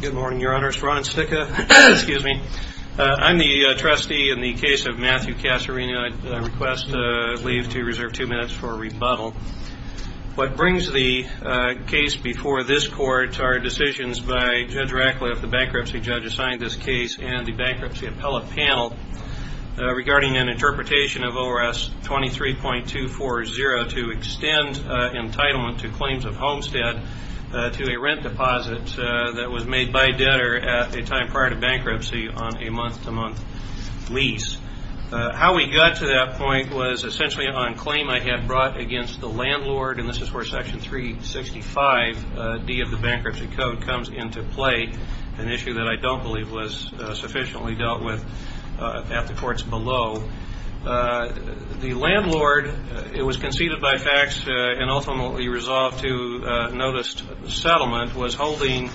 Good morning, your honors. Ron Cicca, excuse me. I'm the trustee in the case of Matthew Casserino. I request leave to reserve two minutes for rebuttal. What brings the case before this court are decisions by Judge Rackleff, the bankruptcy judge assigned this case, and the bankruptcy appellate panel regarding an interpretation of ORS 23.240 to extend entitlement to claims of homestead to a rent deposit that was made by a debtor at a time prior to bankruptcy on a month-to-month lease. How we got to that point was essentially on claim I had brought against the landlord, and this is where Section 365D of the Bankruptcy Code comes into play, an issue that I don't believe was sufficiently dealt with at the courts below. The landlord, it was conceded by facts and ultimately resolved to noticed settlement, was holding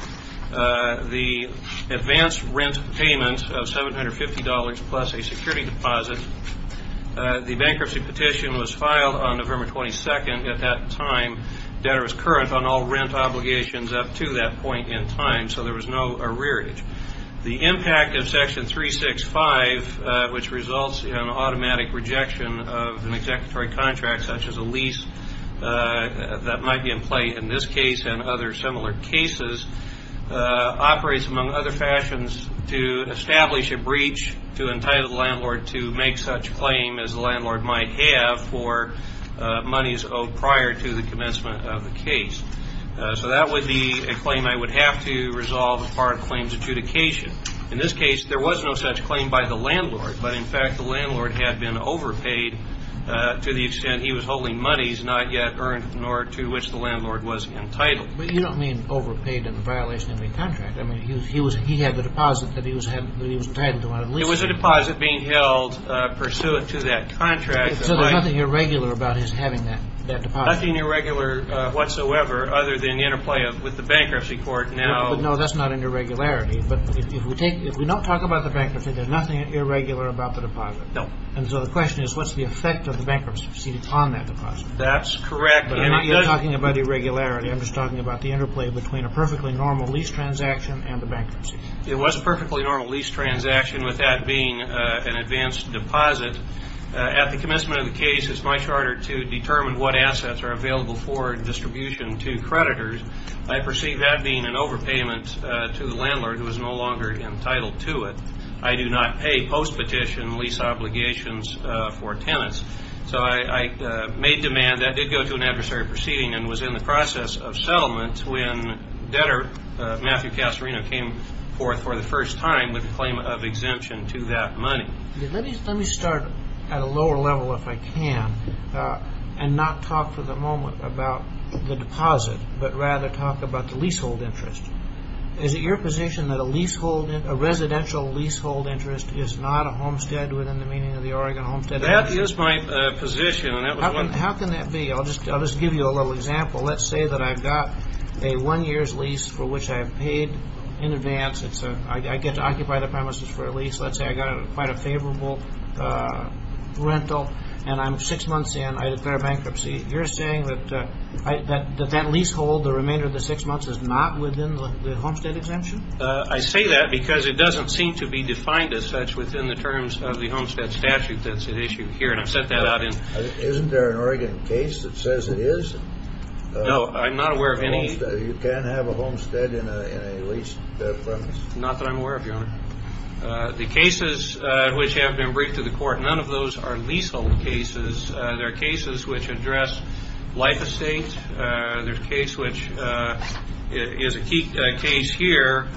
the advance rent payment of $750 plus a security deposit. The bankruptcy petition was filed on November 22nd at that time. Debtor was current on all rent obligations up to that point in time, so there was no arrearage. The impact of Section 365, which results in automatic rejection of an executory contract such as a lease that might be in play in this case and other similar cases, operates among other fashions to establish a breach to entitle the landlord to make such claim as the landlord might have for monies owed prior to the commencement of the case. So that would be a claim I would have to resolve as part of claims adjudication. In this case, there was no such claim by the landlord, but in fact the landlord had been overpaid to the extent he was holding monies not yet earned nor to which the landlord was entitled. But you don't mean overpaid in the violation of a contract. I mean, he had the deposit that he was entitled to on a lease. It was a deposit being held pursuant to that contract. So there's nothing irregular about his having that deposit? There's nothing irregular whatsoever other than the interplay with the bankruptcy court. No, that's not an irregularity, but if we don't talk about the bankruptcy, there's nothing irregular about the deposit. No. And so the question is, what's the effect of the bankruptcy on that deposit? That's correct. I'm not talking about irregularity. I'm just talking about the interplay between a perfectly normal lease transaction and the bankruptcy. It was a perfectly normal lease transaction with that being an advanced deposit. At the commencement of the case, it's much harder to determine what assets are available for distribution to creditors. I perceive that being an overpayment to the landlord who is no longer entitled to it. I do not pay post-petition lease obligations for tenants. So I made demand. That did go to an adversary proceeding and was in the process of settlement when debtor Matthew Casarino came forth for the first time with a claim of exemption to that money. Let me start at a lower level if I can and not talk for the moment about the deposit, but rather talk about the leasehold interest. Is it your position that a residential leasehold interest is not a homestead within the meaning of the Oregon Homestead Act? That is my position. How can that be? I'll just give you a little example. Let's say that I've got a one-year lease for which I have paid in advance. I get to occupy the premises for a lease. Let's say I got quite a favorable rental and I'm six months in. I declare bankruptcy. You're saying that that leasehold, the remainder of the six months, is not within the homestead exemption? I say that because it doesn't seem to be defined as such within the terms of the homestead statute that's at issue here, and I've set that out. Isn't there an Oregon case that says it is? No, I'm not aware of any. You can't have a homestead in a leased premise? Not that I'm aware of, Your Honor. The cases which have been brought to the court, none of those are leasehold cases. There are cases which address life estate. There's a case which is a key case here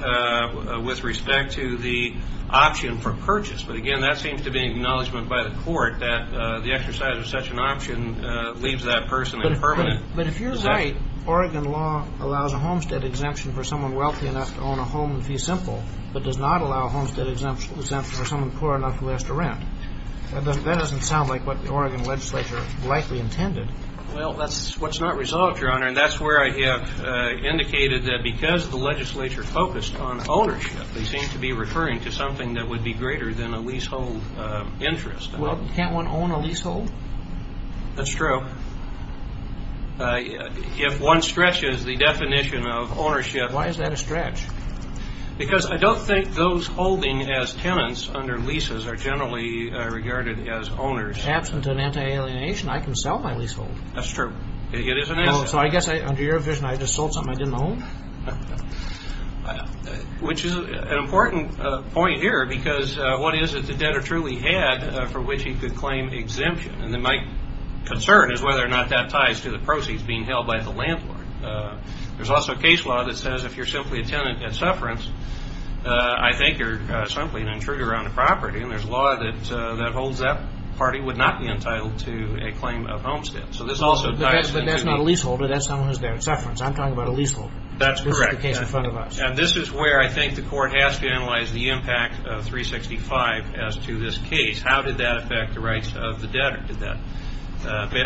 with respect to the option for purchase. But, again, that seems to be an acknowledgment by the court that the exercise of such an option leaves that person in permanent. But if you're right, Oregon law allows a homestead exemption for someone wealthy enough to own a home and fee simple, but does not allow a homestead exemption for someone poor enough who has to rent. That doesn't sound like what the Oregon legislature likely intended. Well, that's what's not resolved, Your Honor, and that's where I have indicated that because the legislature focused on ownership, they seem to be referring to something that would be greater than a leasehold interest. Well, can't one own a leasehold? That's true. Why is that a stretch? Because I don't think those holding as tenants under leases are generally regarded as owners. Absent an anti-alienation, I can sell my leasehold. That's true. It is an asset. So I guess under your vision I just sold something I didn't own? Which is an important point here because what is it the debtor truly had for which he could claim exemption? And my concern is whether or not that ties to the proceeds being held by the landlord. There's also a case law that says if you're simply a tenant at Sufferance, I think you're simply an intruder on the property, and there's law that holds that party would not be entitled to a claim of homestead. But that's not a leaseholder. That's someone who's there at Sufferance. I'm talking about a leaseholder. That's correct. This is the case in front of us. And this is where I think the court has to analyze the impact of 365 as to this case. How did that affect the rights of the debtor?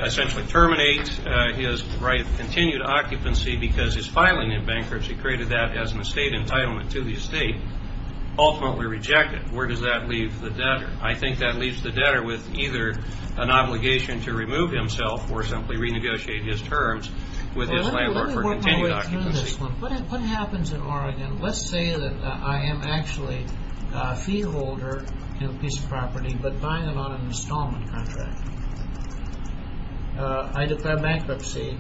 Essentially terminate his right of continued occupancy because his filing in bankruptcy created that as an estate entitlement to the estate. Ultimately reject it. Where does that leave the debtor? I think that leaves the debtor with either an obligation to remove himself or simply renegotiate his terms with his landlord for continued occupancy. What happens in Oregon? Let's say that I am actually a feeholder in a piece of property, but buying it on an installment contract. I declare bankruptcy.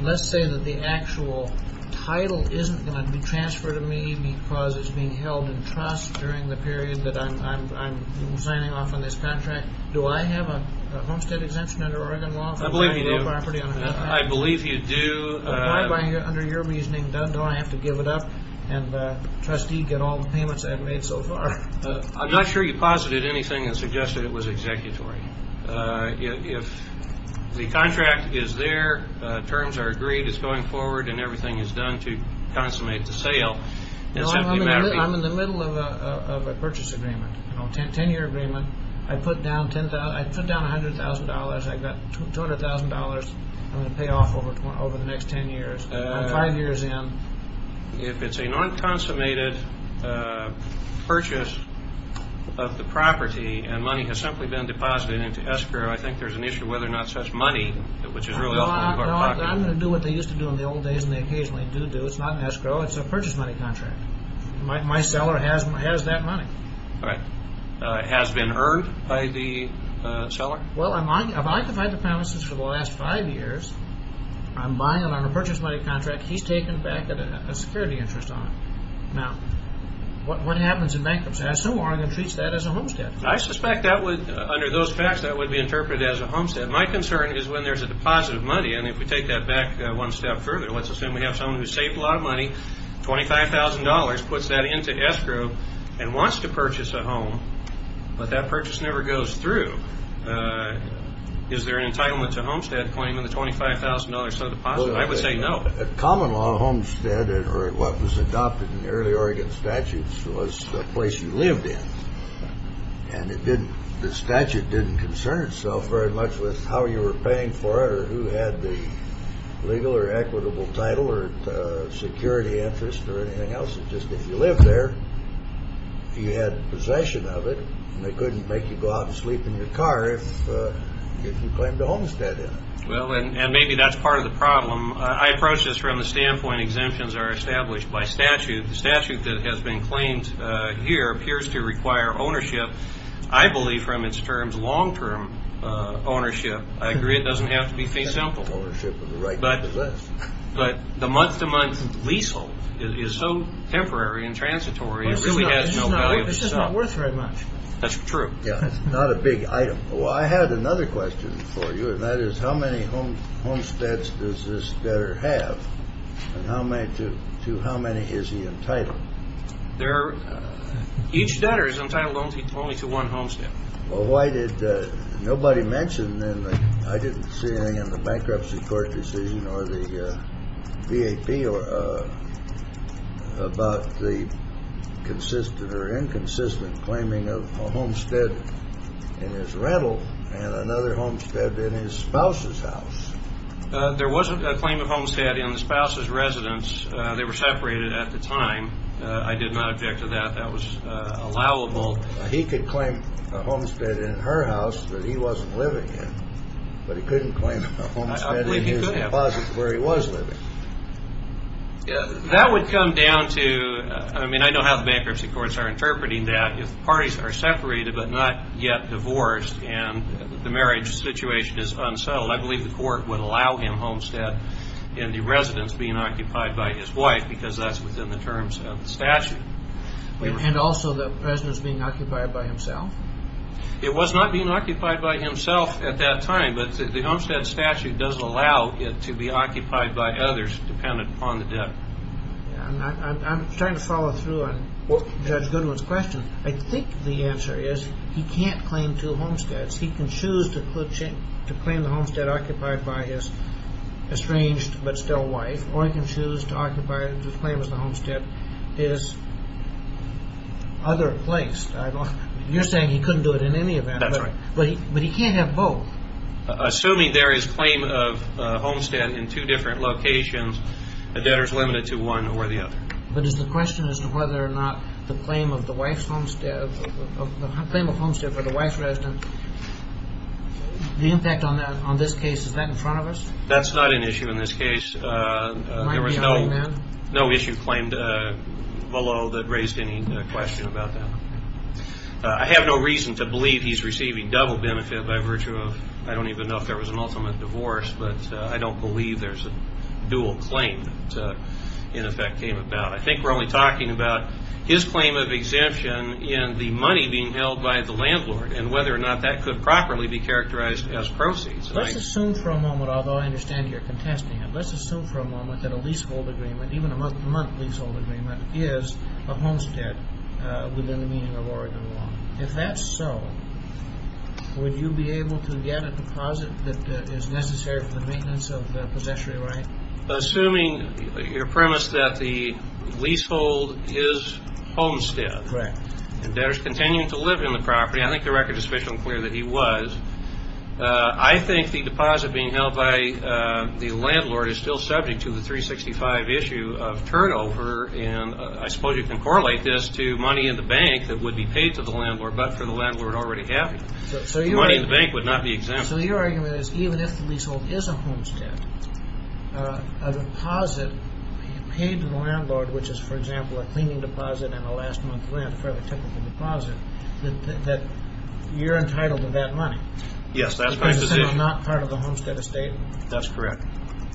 Let's say that the actual title isn't going to be transferred to me because it's being held in trust during the period that I'm signing off on this contract. Do I have a homestead exemption under Oregon law for buying a property on an installment contract? I believe you do. Why, under your reasoning, don't I have to give it up and trustee get all the payments I've made so far? I'm not sure you posited anything that suggested it was executory. If the contract is there, terms are agreed, it's going forward, and everything is done to consummate the sale. I'm in the middle of a purchase agreement, a 10-year agreement. I put down $100,000. I've got $200,000 I'm going to pay off over the next 10 years. I'm five years in. If it's a non-consummated purchase of the property and money has simply been deposited into escrow, I think there's an issue whether or not such money, which is really often in your pocket. I'm going to do what they used to do in the old days, and they occasionally do do. It's not an escrow, it's a purchase money contract. My seller has that money. Has it been earned by the seller? Well, I've occupied the premises for the last five years. I'm buying it on a purchase money contract. He's taken back a security interest on it. Now, what happens in bankruptcy? I assume Oregon treats that as a homestead. I suspect that would, under those facts, that would be interpreted as a homestead. My concern is when there's a deposit of money, and if we take that back one step further, let's assume we have someone who's saved a lot of money, $25,000, puts that into escrow, and wants to purchase a home, but that purchase never goes through. Is there an entitlement to homestead claim in the $25,000 deposit? I would say no. Common law homestead, or what was adopted in the early Oregon statutes, was the place you lived in. And the statute didn't concern itself very much with how you were paying for it, or who had the legal or equitable title, or security interest, or anything else. It just, if you lived there, if you had possession of it, they couldn't make you go out and sleep in your car if you claimed a homestead in it. Well, and maybe that's part of the problem. I approach this from the standpoint exemptions are established by statute. The statute that has been claimed here appears to require ownership, I believe, from its terms, long-term ownership. I agree it doesn't have to be fee simple. Ownership of the right to possess. But the month-to-month leasehold is so temporary and transitory, it really has no value. This is not worth very much. That's true. Yeah, it's not a big item. Well, I had another question for you, and that is how many homesteads does this debtor have, and to how many is he entitled? Each debtor is entitled only to one homestead. Well, why did nobody mention, and I didn't see anything in the bankruptcy court decision or the V.A.P. about the consistent or inconsistent claiming of a homestead in his rental and another homestead in his spouse's house? There wasn't a claim of homestead in the spouse's residence. They were separated at the time. I did not object to that. That was allowable. He could claim a homestead in her house that he wasn't living in, but he couldn't claim a homestead in his deposit where he was living. That would come down to, I mean, I know how the bankruptcy courts are interpreting that. If parties are separated but not yet divorced and the marriage situation is unsettled, I believe the court would allow him homestead in the residence being occupied by his wife because that's within the terms of the statute. And also the residence being occupied by himself? It was not being occupied by himself at that time, but the homestead statute doesn't allow it to be occupied by others dependent upon the debt. I'm trying to follow through on Judge Goodwin's question. I think the answer is he can't claim two homesteads. He can choose to claim the homestead occupied by his estranged but still wife, or he can choose to occupy the claim of the homestead his other place. You're saying he couldn't do it in any event. That's right. But he can't have both. Assuming there is claim of homestead in two different locations, a debtor is limited to one or the other. But is the question as to whether or not the claim of the wife's homestead, the claim of homestead for the wife's residence, the impact on this case, is that in front of us? That's not an issue in this case. There was no issue claimed below that raised any question about that. I have no reason to believe he's receiving double benefit by virtue of, I don't even know if there was an ultimate divorce, but I don't believe there's a dual claim that, in effect, came about. I think we're only talking about his claim of exemption in the money being held by the landlord and whether or not that could properly be characterized as proceeds. Let's assume for a moment, although I understand you're contesting it, let's assume for a moment that a leasehold agreement, even a month-to-month leasehold agreement, is a homestead within the meaning of Oregon law. If that's so, would you be able to get a deposit that is necessary for the maintenance of the possessory right? Assuming your premise that the leasehold is homestead and debtor's continuing to live in the property, I think the record is sufficiently clear that he was, I think the deposit being held by the landlord is still subject to the 365 issue of turnover, and I suppose you can correlate this to money in the bank that would be paid to the landlord but for the landlord already having it. Money in the bank would not be exempt. So your argument is even if the leasehold is a homestead, a deposit paid to the landlord, which is, for example, a cleaning deposit and a last month rent, that you're entitled to that money? Yes, that's my position. Because it's not part of the homestead estate? That's correct.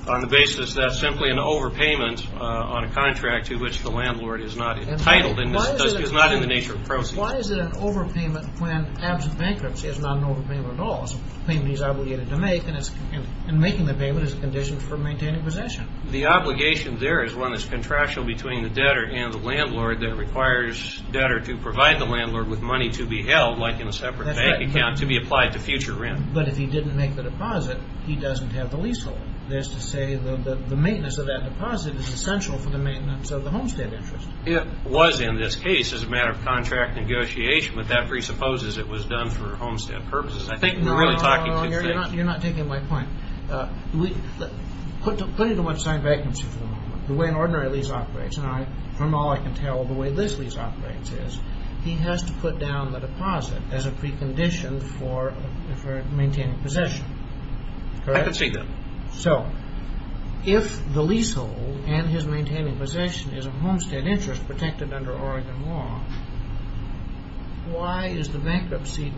On the basis that's simply an overpayment on a contract to which the landlord is not entitled, it's not in the nature of proceeds. Why is it an overpayment when absent bankruptcy is not an overpayment at all? It's a payment he's obligated to make, and making the payment is a condition for maintaining possession. The obligation there is one that's contractual between the debtor and the landlord that requires debtor to provide the landlord with money to be held, like in a separate bank account, to be applied to future rent. But if he didn't make the deposit, he doesn't have the leasehold. That is to say the maintenance of that deposit is essential for the maintenance of the homestead interest. It was in this case as a matter of contract negotiation, but that presupposes it was done for homestead purposes. I think we're really talking two things. No, no, you're not taking my point. Putting aside bankruptcy for the moment, the way an ordinary lease operates, and from all I can tell, the way this lease operates is, he has to put down the deposit as a precondition for maintaining possession. Correct? I can see that. So, if the leasehold and his maintaining possession is a homestead interest protected under Oregon law, why is the bankruptcy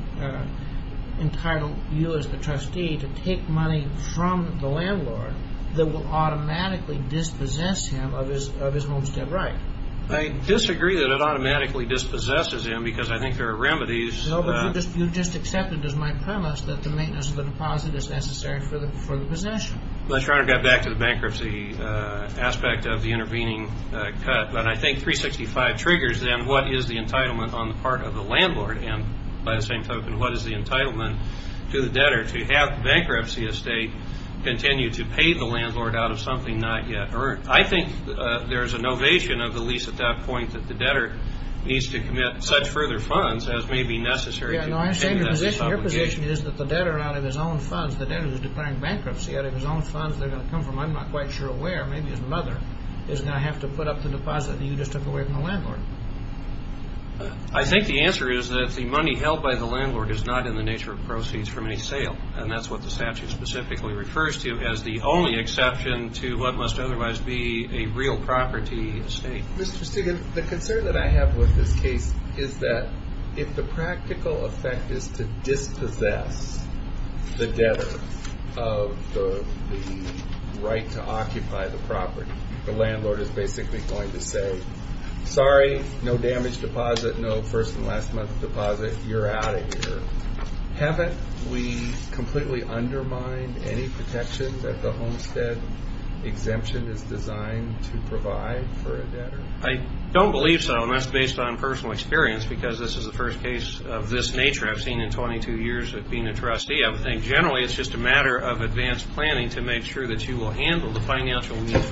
entitled you as the trustee to take money from the landlord that will automatically dispossess him of his homestead right? I disagree that it automatically dispossesses him because I think there are remedies. No, but you just accepted, as my premise, that the maintenance of the deposit is necessary for the possession. Let's try to get back to the bankruptcy aspect of the intervening cut. But I think 365 triggers, then, what is the entitlement on the part of the landlord, and by the same token, what is the entitlement to the debtor to have the bankruptcy estate continue to pay the landlord out of something not yet earned? I think there is an ovation of the lease at that point that the debtor needs to commit such further funds as may be necessary to pay the debtor. I understand your position is that the debtor, out of his own funds, the debtor who is declaring bankruptcy out of his own funds, they're going to come from, I'm not quite sure where, maybe his mother is going to have to put up the deposit that you just took away from the landlord. I think the answer is that the money held by the landlord is not in the nature of proceeds from any sale, and that's what the statute specifically refers to as the only exception to what must otherwise be a real property estate. Mr. Stiggin, the concern that I have with this case is that if the practical effect is to dispossess the debtor of the right to occupy the property, the landlord is basically going to say, sorry, no damage deposit, no first and last month's deposit, you're out of here. Haven't we completely undermined any protections that the homestead exemption is designed to provide for a debtor? I don't believe so, and that's based on personal experience, because this is the first case of this nature I've seen in 22 years of being a trustee. I would think generally it's just a matter of advanced planning to make sure that you will handle the financial needs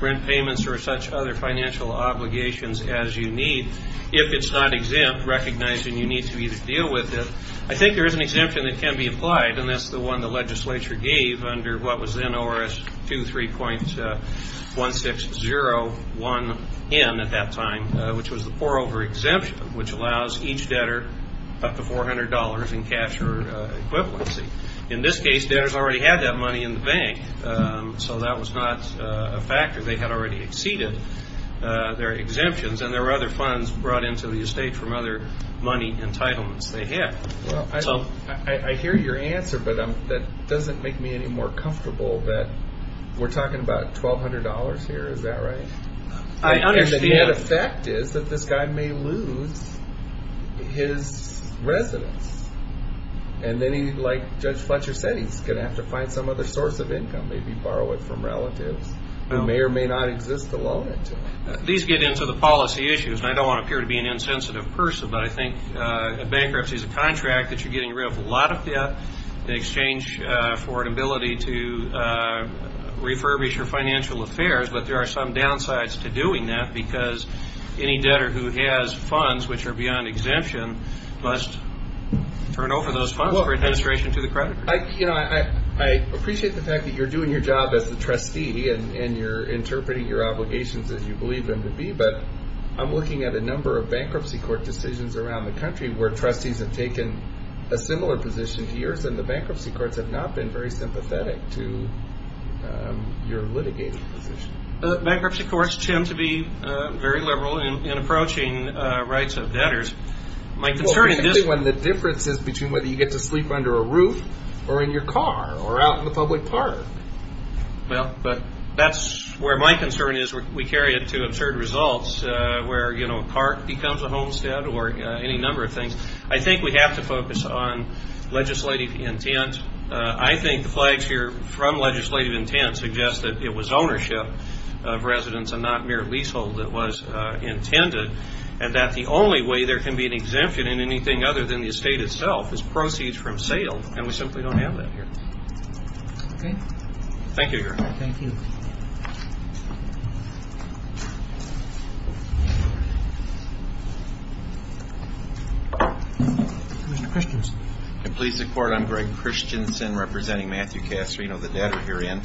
rent payments or such other financial obligations as you need. If it's not exempt, recognizing you need to either deal with it. I think there is an exemption that can be applied, and that's the one the legislature gave under what was then ORS 23.1601N at that time, which was the pour-over exemption, which allows each debtor up to $400 in cash or equivalency. So that was not a factor. They had already exceeded their exemptions, and there were other funds brought into the estate from other money entitlements they had. I hear your answer, but that doesn't make me any more comfortable that we're talking about $1,200 here. Is that right? I understand. And the net effect is that this guy may lose his residence, and then he, like Judge Fletcher said, he's going to have to find some other source of income, maybe borrow it from relatives who may or may not exist to loan it to. These get into the policy issues, and I don't want to appear to be an insensitive person, but I think a bankruptcy is a contract that you're getting rid of a lot of debt in exchange for an ability to refurbish your financial affairs, but there are some downsides to doing that because any debtor who has funds which are beyond exemption must turn over those funds for administration to the creditor. I appreciate the fact that you're doing your job as the trustee and you're interpreting your obligations as you believe them to be, but I'm looking at a number of bankruptcy court decisions around the country where trustees have taken a similar position to yours, and the bankruptcy courts have not been very sympathetic to your litigating position. Bankruptcy courts tend to be very liberal in approaching rights of debtors. Well, particularly when the difference is between whether you get to sleep under a roof or in your car or out in the public park. Well, that's where my concern is. We carry it to absurd results where a park becomes a homestead or any number of things. I think we have to focus on legislative intent. I think the flags here from legislative intent suggest that it was ownership of residents and not mere leasehold that was intended and that the only way there can be an exemption in anything other than the estate itself is proceeds from sale, and we simply don't have that here. Thank you, Your Honor. Thank you. Commissioner Christianson. Please support. I'm Greg Christianson representing Matthew Casarino, the debtor herein.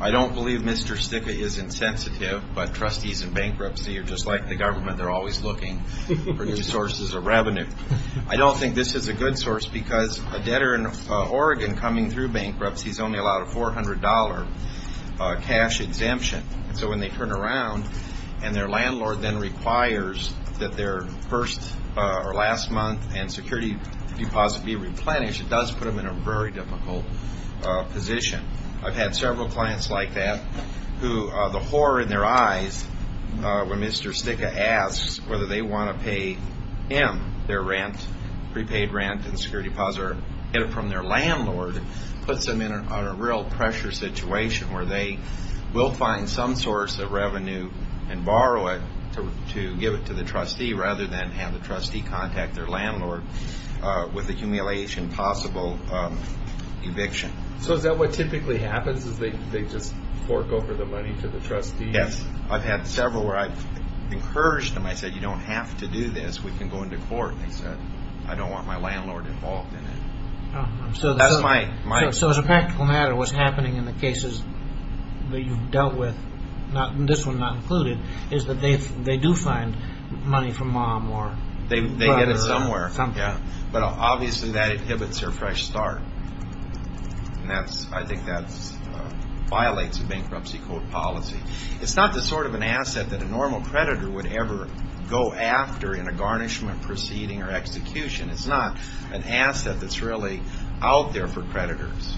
I don't believe Mr. Sticca is insensitive, but trustees in bankruptcy are just like the government. They're always looking for new sources of revenue. I don't think this is a good source because a debtor in Oregon coming through bankruptcy is only allowed a $400 cash exemption. So when they turn around and their landlord then requires that their first or last month and security deposit be replenished, it does put them in a very difficult position. I've had several clients like that who the horror in their eyes when Mr. Sticca asks whether they want to pay him their rent, prepaid rent and security deposit, or get it from their landlord puts them in a real pressure situation where they will find some source of revenue and borrow it to give it to the trustee rather than have the trustee contact their landlord with the humiliation possible eviction. So is that what typically happens is they just fork over the money to the trustee? Yes. I've had several where I've encouraged them. I said, you don't have to do this. We can go into court. They said, I don't want my landlord involved in it. So as a practical matter, what's happening in the cases that you've dealt with, this one not included, is that they do find money from mom or brother or something. But obviously that inhibits their fresh start. I think that violates a bankruptcy court policy. It's not the sort of an asset that a normal creditor would ever go after in a garnishment proceeding or execution. It's not an asset that's really out there for creditors.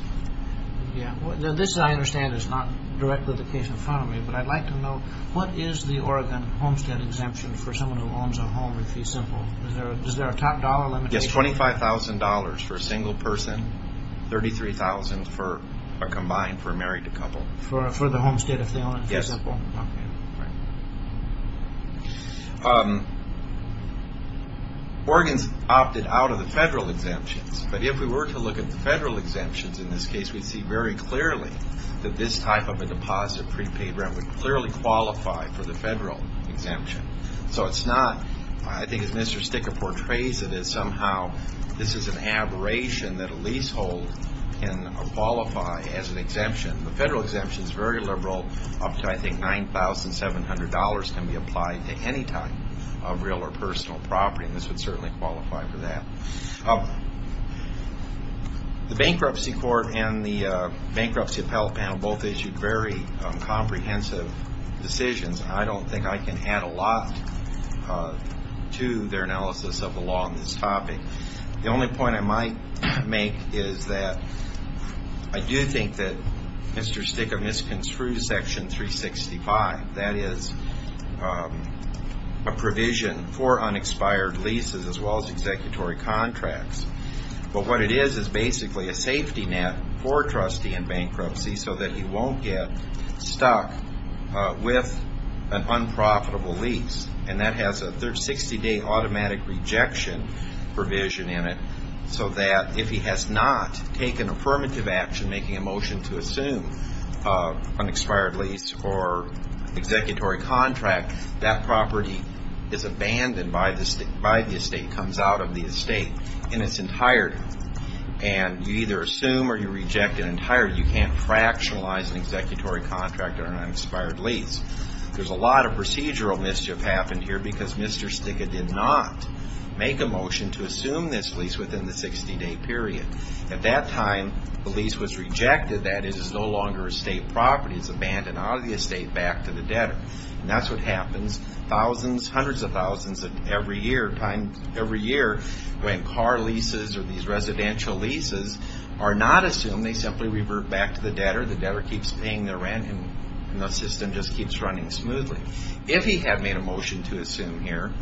This I understand is not directly the case in front of me, but I'd like to know what is the Oregon homestead exemption for someone who owns a home in Fee Simple? Is there a top dollar limit? Yes, $25,000 for a single person, $33,000 combined for a married couple. For the homestead if they own it in Fee Simple? Yes. Oregon's opted out of the federal exemptions, but if we were to look at the federal exemptions in this case, we'd see very clearly that this type of a deposit, prepaid rent, would clearly qualify for the federal exemption. So it's not, I think as Mr. Sticker portrays it, is somehow this is an aberration that a leasehold can qualify as an exemption. The federal exemption is very liberal, up to I think $9,700 can be applied to any type of real or personal property, and this would certainly qualify for that. The bankruptcy court and the bankruptcy appellate panel both issued very comprehensive decisions. I don't think I can add a lot to their analysis of the law on this topic. The only point I might make is that I do think that Mr. Sticker misconstrued Section 365. That is a provision for unexpired leases as well as executory contracts. But what it is is basically a safety net for a trustee in bankruptcy so that he won't get stuck with an unprofitable lease. And that has a 60-day automatic rejection provision in it so that if he has not taken affirmative action, making a motion to assume an expired lease or executory contract, that property is abandoned by the estate, comes out of the estate in its entirety. And you either assume or you reject it entirely. Or you can't fractionalize an executory contract or an expired lease. There's a lot of procedural mischief happened here because Mr. Sticker did not make a motion to assume this lease within the 60-day period. At that time, the lease was rejected. That is, it's no longer estate property. It's abandoned out of the estate back to the debtor. And that's what happens thousands, hundreds of thousands of times every year when car leases or these residential leases are not assumed. They simply revert back to the debtor. The debtor keeps paying the rent, and the system just keeps running smoothly. If he had made a motion to assume here,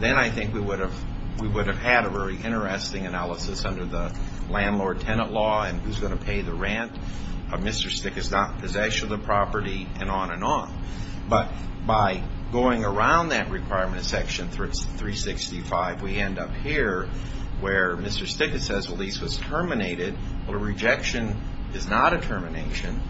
then I think we would have had a very interesting analysis under the landlord-tenant law and who's going to pay the rent. Mr. Sticker's not in possession of the property, and on and on. But by going around that requirement in Section 365, we end up here where Mr. Sticker says, well, the lease was terminated. Well, a rejection is not a termination.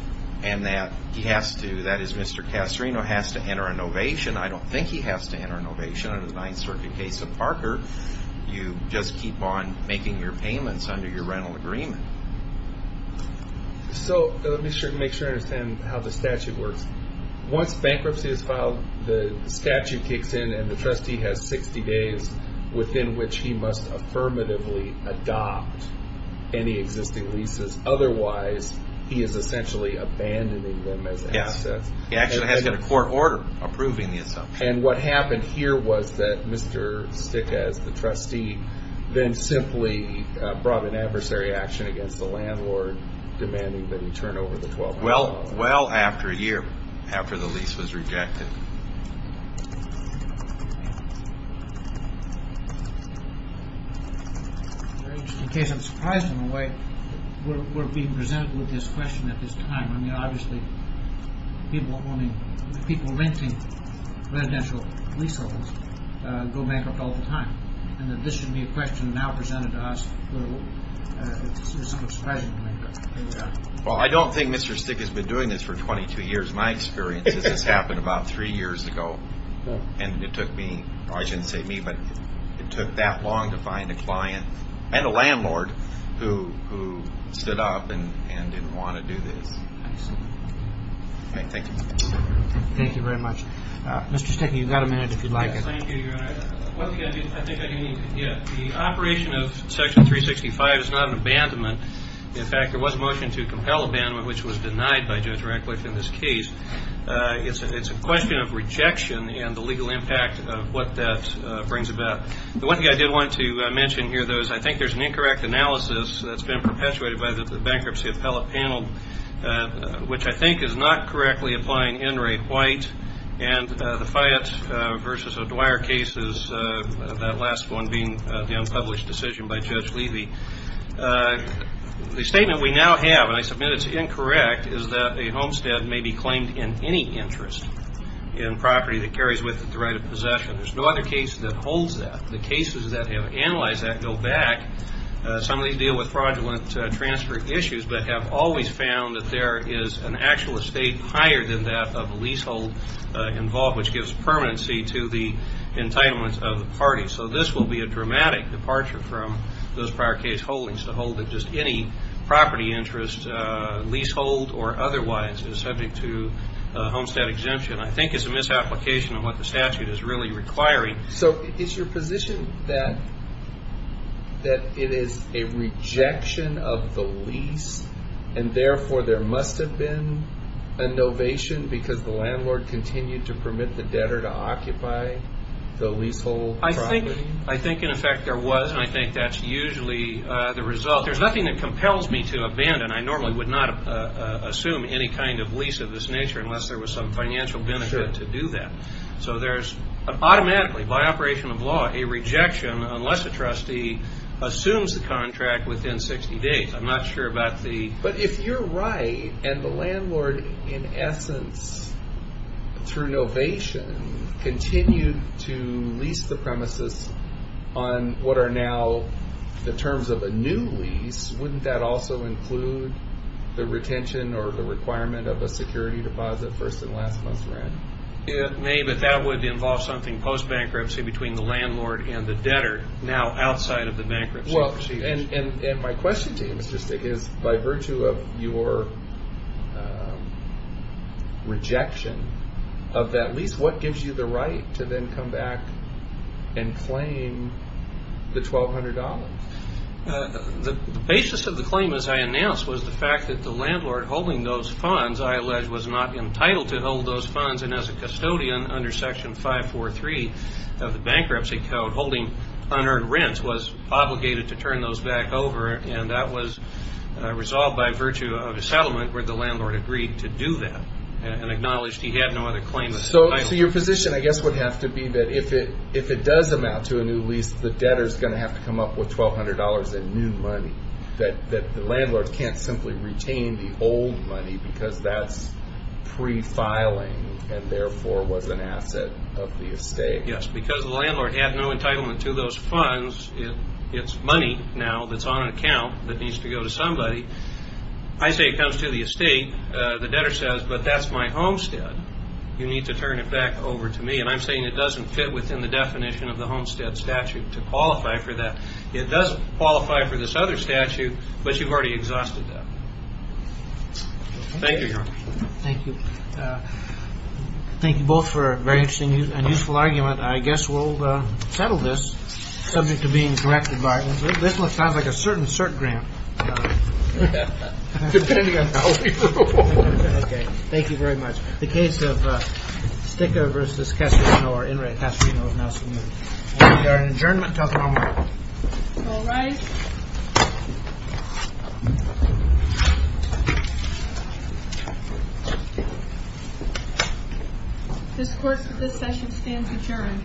And that he has to, that is, Mr. Casarino has to enter a novation. I don't think he has to enter a novation. Under the Ninth Circuit case of Parker, you just keep on making your payments under your rental agreement. So let me make sure I understand how the statute works. Once bankruptcy is filed, the statute kicks in, and the trustee has 60 days within which he must affirmatively adopt any existing leases. Otherwise, he is essentially abandoning them as assets. He actually has to get a court order approving the assumption. And what happened here was that Mr. Sticker, as the trustee, then simply brought an adversary action against the landlord, demanding that he turn over the $1,200 loan. Well, well after a year, after the lease was rejected. In case I'm surprised in a way, we're being presented with this question at this time. I mean, obviously, people renting residential lease homes go bankrupt all the time. And that this should be a question now presented to us, it's sort of surprising to me. Well, I don't think Mr. Sticker has been doing this for 22 years. My experience is this happened about three years ago. And it took me, well I shouldn't say me, but it took that long to find a client and a landlord who stood up and didn't want to do this. I see. Thank you. Thank you very much. Mr. Sticker, you've got a minute if you'd like. Thank you, Your Honor. Once again, I think I didn't get it. The operation of Section 365 is not an abandonment. In fact, there was a motion to compel abandonment, which was denied by Judge Radcliffe in this case. It's a question of rejection and the legal impact of what that brings about. The one thing I did want to mention here, though, is I think there's an incorrect analysis that's been perpetuated by the bankruptcy appellate panel, which I think is not correctly applying Enright White. And the Fayette v. O'Dwyer case is that last one being the unpublished decision by Judge Levy. The statement we now have, and I submit it's incorrect, is that a homestead may be claimed in any interest in property that carries with it the right of possession. There's no other case that holds that. The cases that have analyzed that go back. Some of these deal with fraudulent transfer issues that have always found that there is an actual estate higher than that of a leasehold involved, which gives permanency to the entitlements of the party. So this will be a dramatic departure from those prior case holdings, to hold that just any property interest, leasehold or otherwise, is subject to a homestead exemption. I think it's a misapplication of what the statute is really requiring. So is your position that it is a rejection of the lease, and therefore there must have been a novation because the landlord continued to permit the debtor to occupy the leasehold property? I think in effect there was, and I think that's usually the result. There's nothing that compels me to abandon. I normally would not assume any kind of lease of this nature unless there was some financial benefit to do that. So there's automatically, by operation of law, a rejection unless a trustee assumes the contract within 60 days. I'm not sure about the... But if you're right and the landlord, in essence, through novation, continued to lease the premises on what are now the terms of a new lease, wouldn't that also include the retention or the requirement of a security deposit first and last month's rent? It may, but that would involve something post-bankruptcy between the landlord and the debtor now outside of the bankruptcy procedures. Well, and my question to you, Mr. Stig, is by virtue of your rejection of that lease, what gives you the right to then come back and claim the $1,200? The basis of the claim, as I announced, was the fact that the landlord holding those funds, I allege, was not entitled to hold those funds. And as a custodian under Section 543 of the Bankruptcy Code, holding unearned rents was obligated to turn those back over, and that was resolved by virtue of a settlement where the landlord agreed to do that and acknowledged he had no other claim of bankruptcy. So your position, I guess, would have to be that if it does amount to a new lease, the debtor is going to have to come up with $1,200 in new money, that the landlord can't simply retain the old money because that's prefiling and therefore was an asset of the estate. Yes, because the landlord had no entitlement to those funds. It's money now that's on an account that needs to go to somebody. I say it comes to the estate. The debtor says, but that's my homestead. You need to turn it back over to me. And I'm saying it doesn't fit within the definition of the homestead statute to qualify for that. It does qualify for this other statute, but you've already exhausted that. Thank you, Your Honor. Thank you. Thank you both for a very interesting and useful argument. I guess we'll settle this subject to being directed by. This one sounds like a certain cert grant. Depending on how we do it. Thank you very much. The case of Sticca v. Casarino is now submitted. We are in adjournment until tomorrow morning. All rise. This session stands adjourned.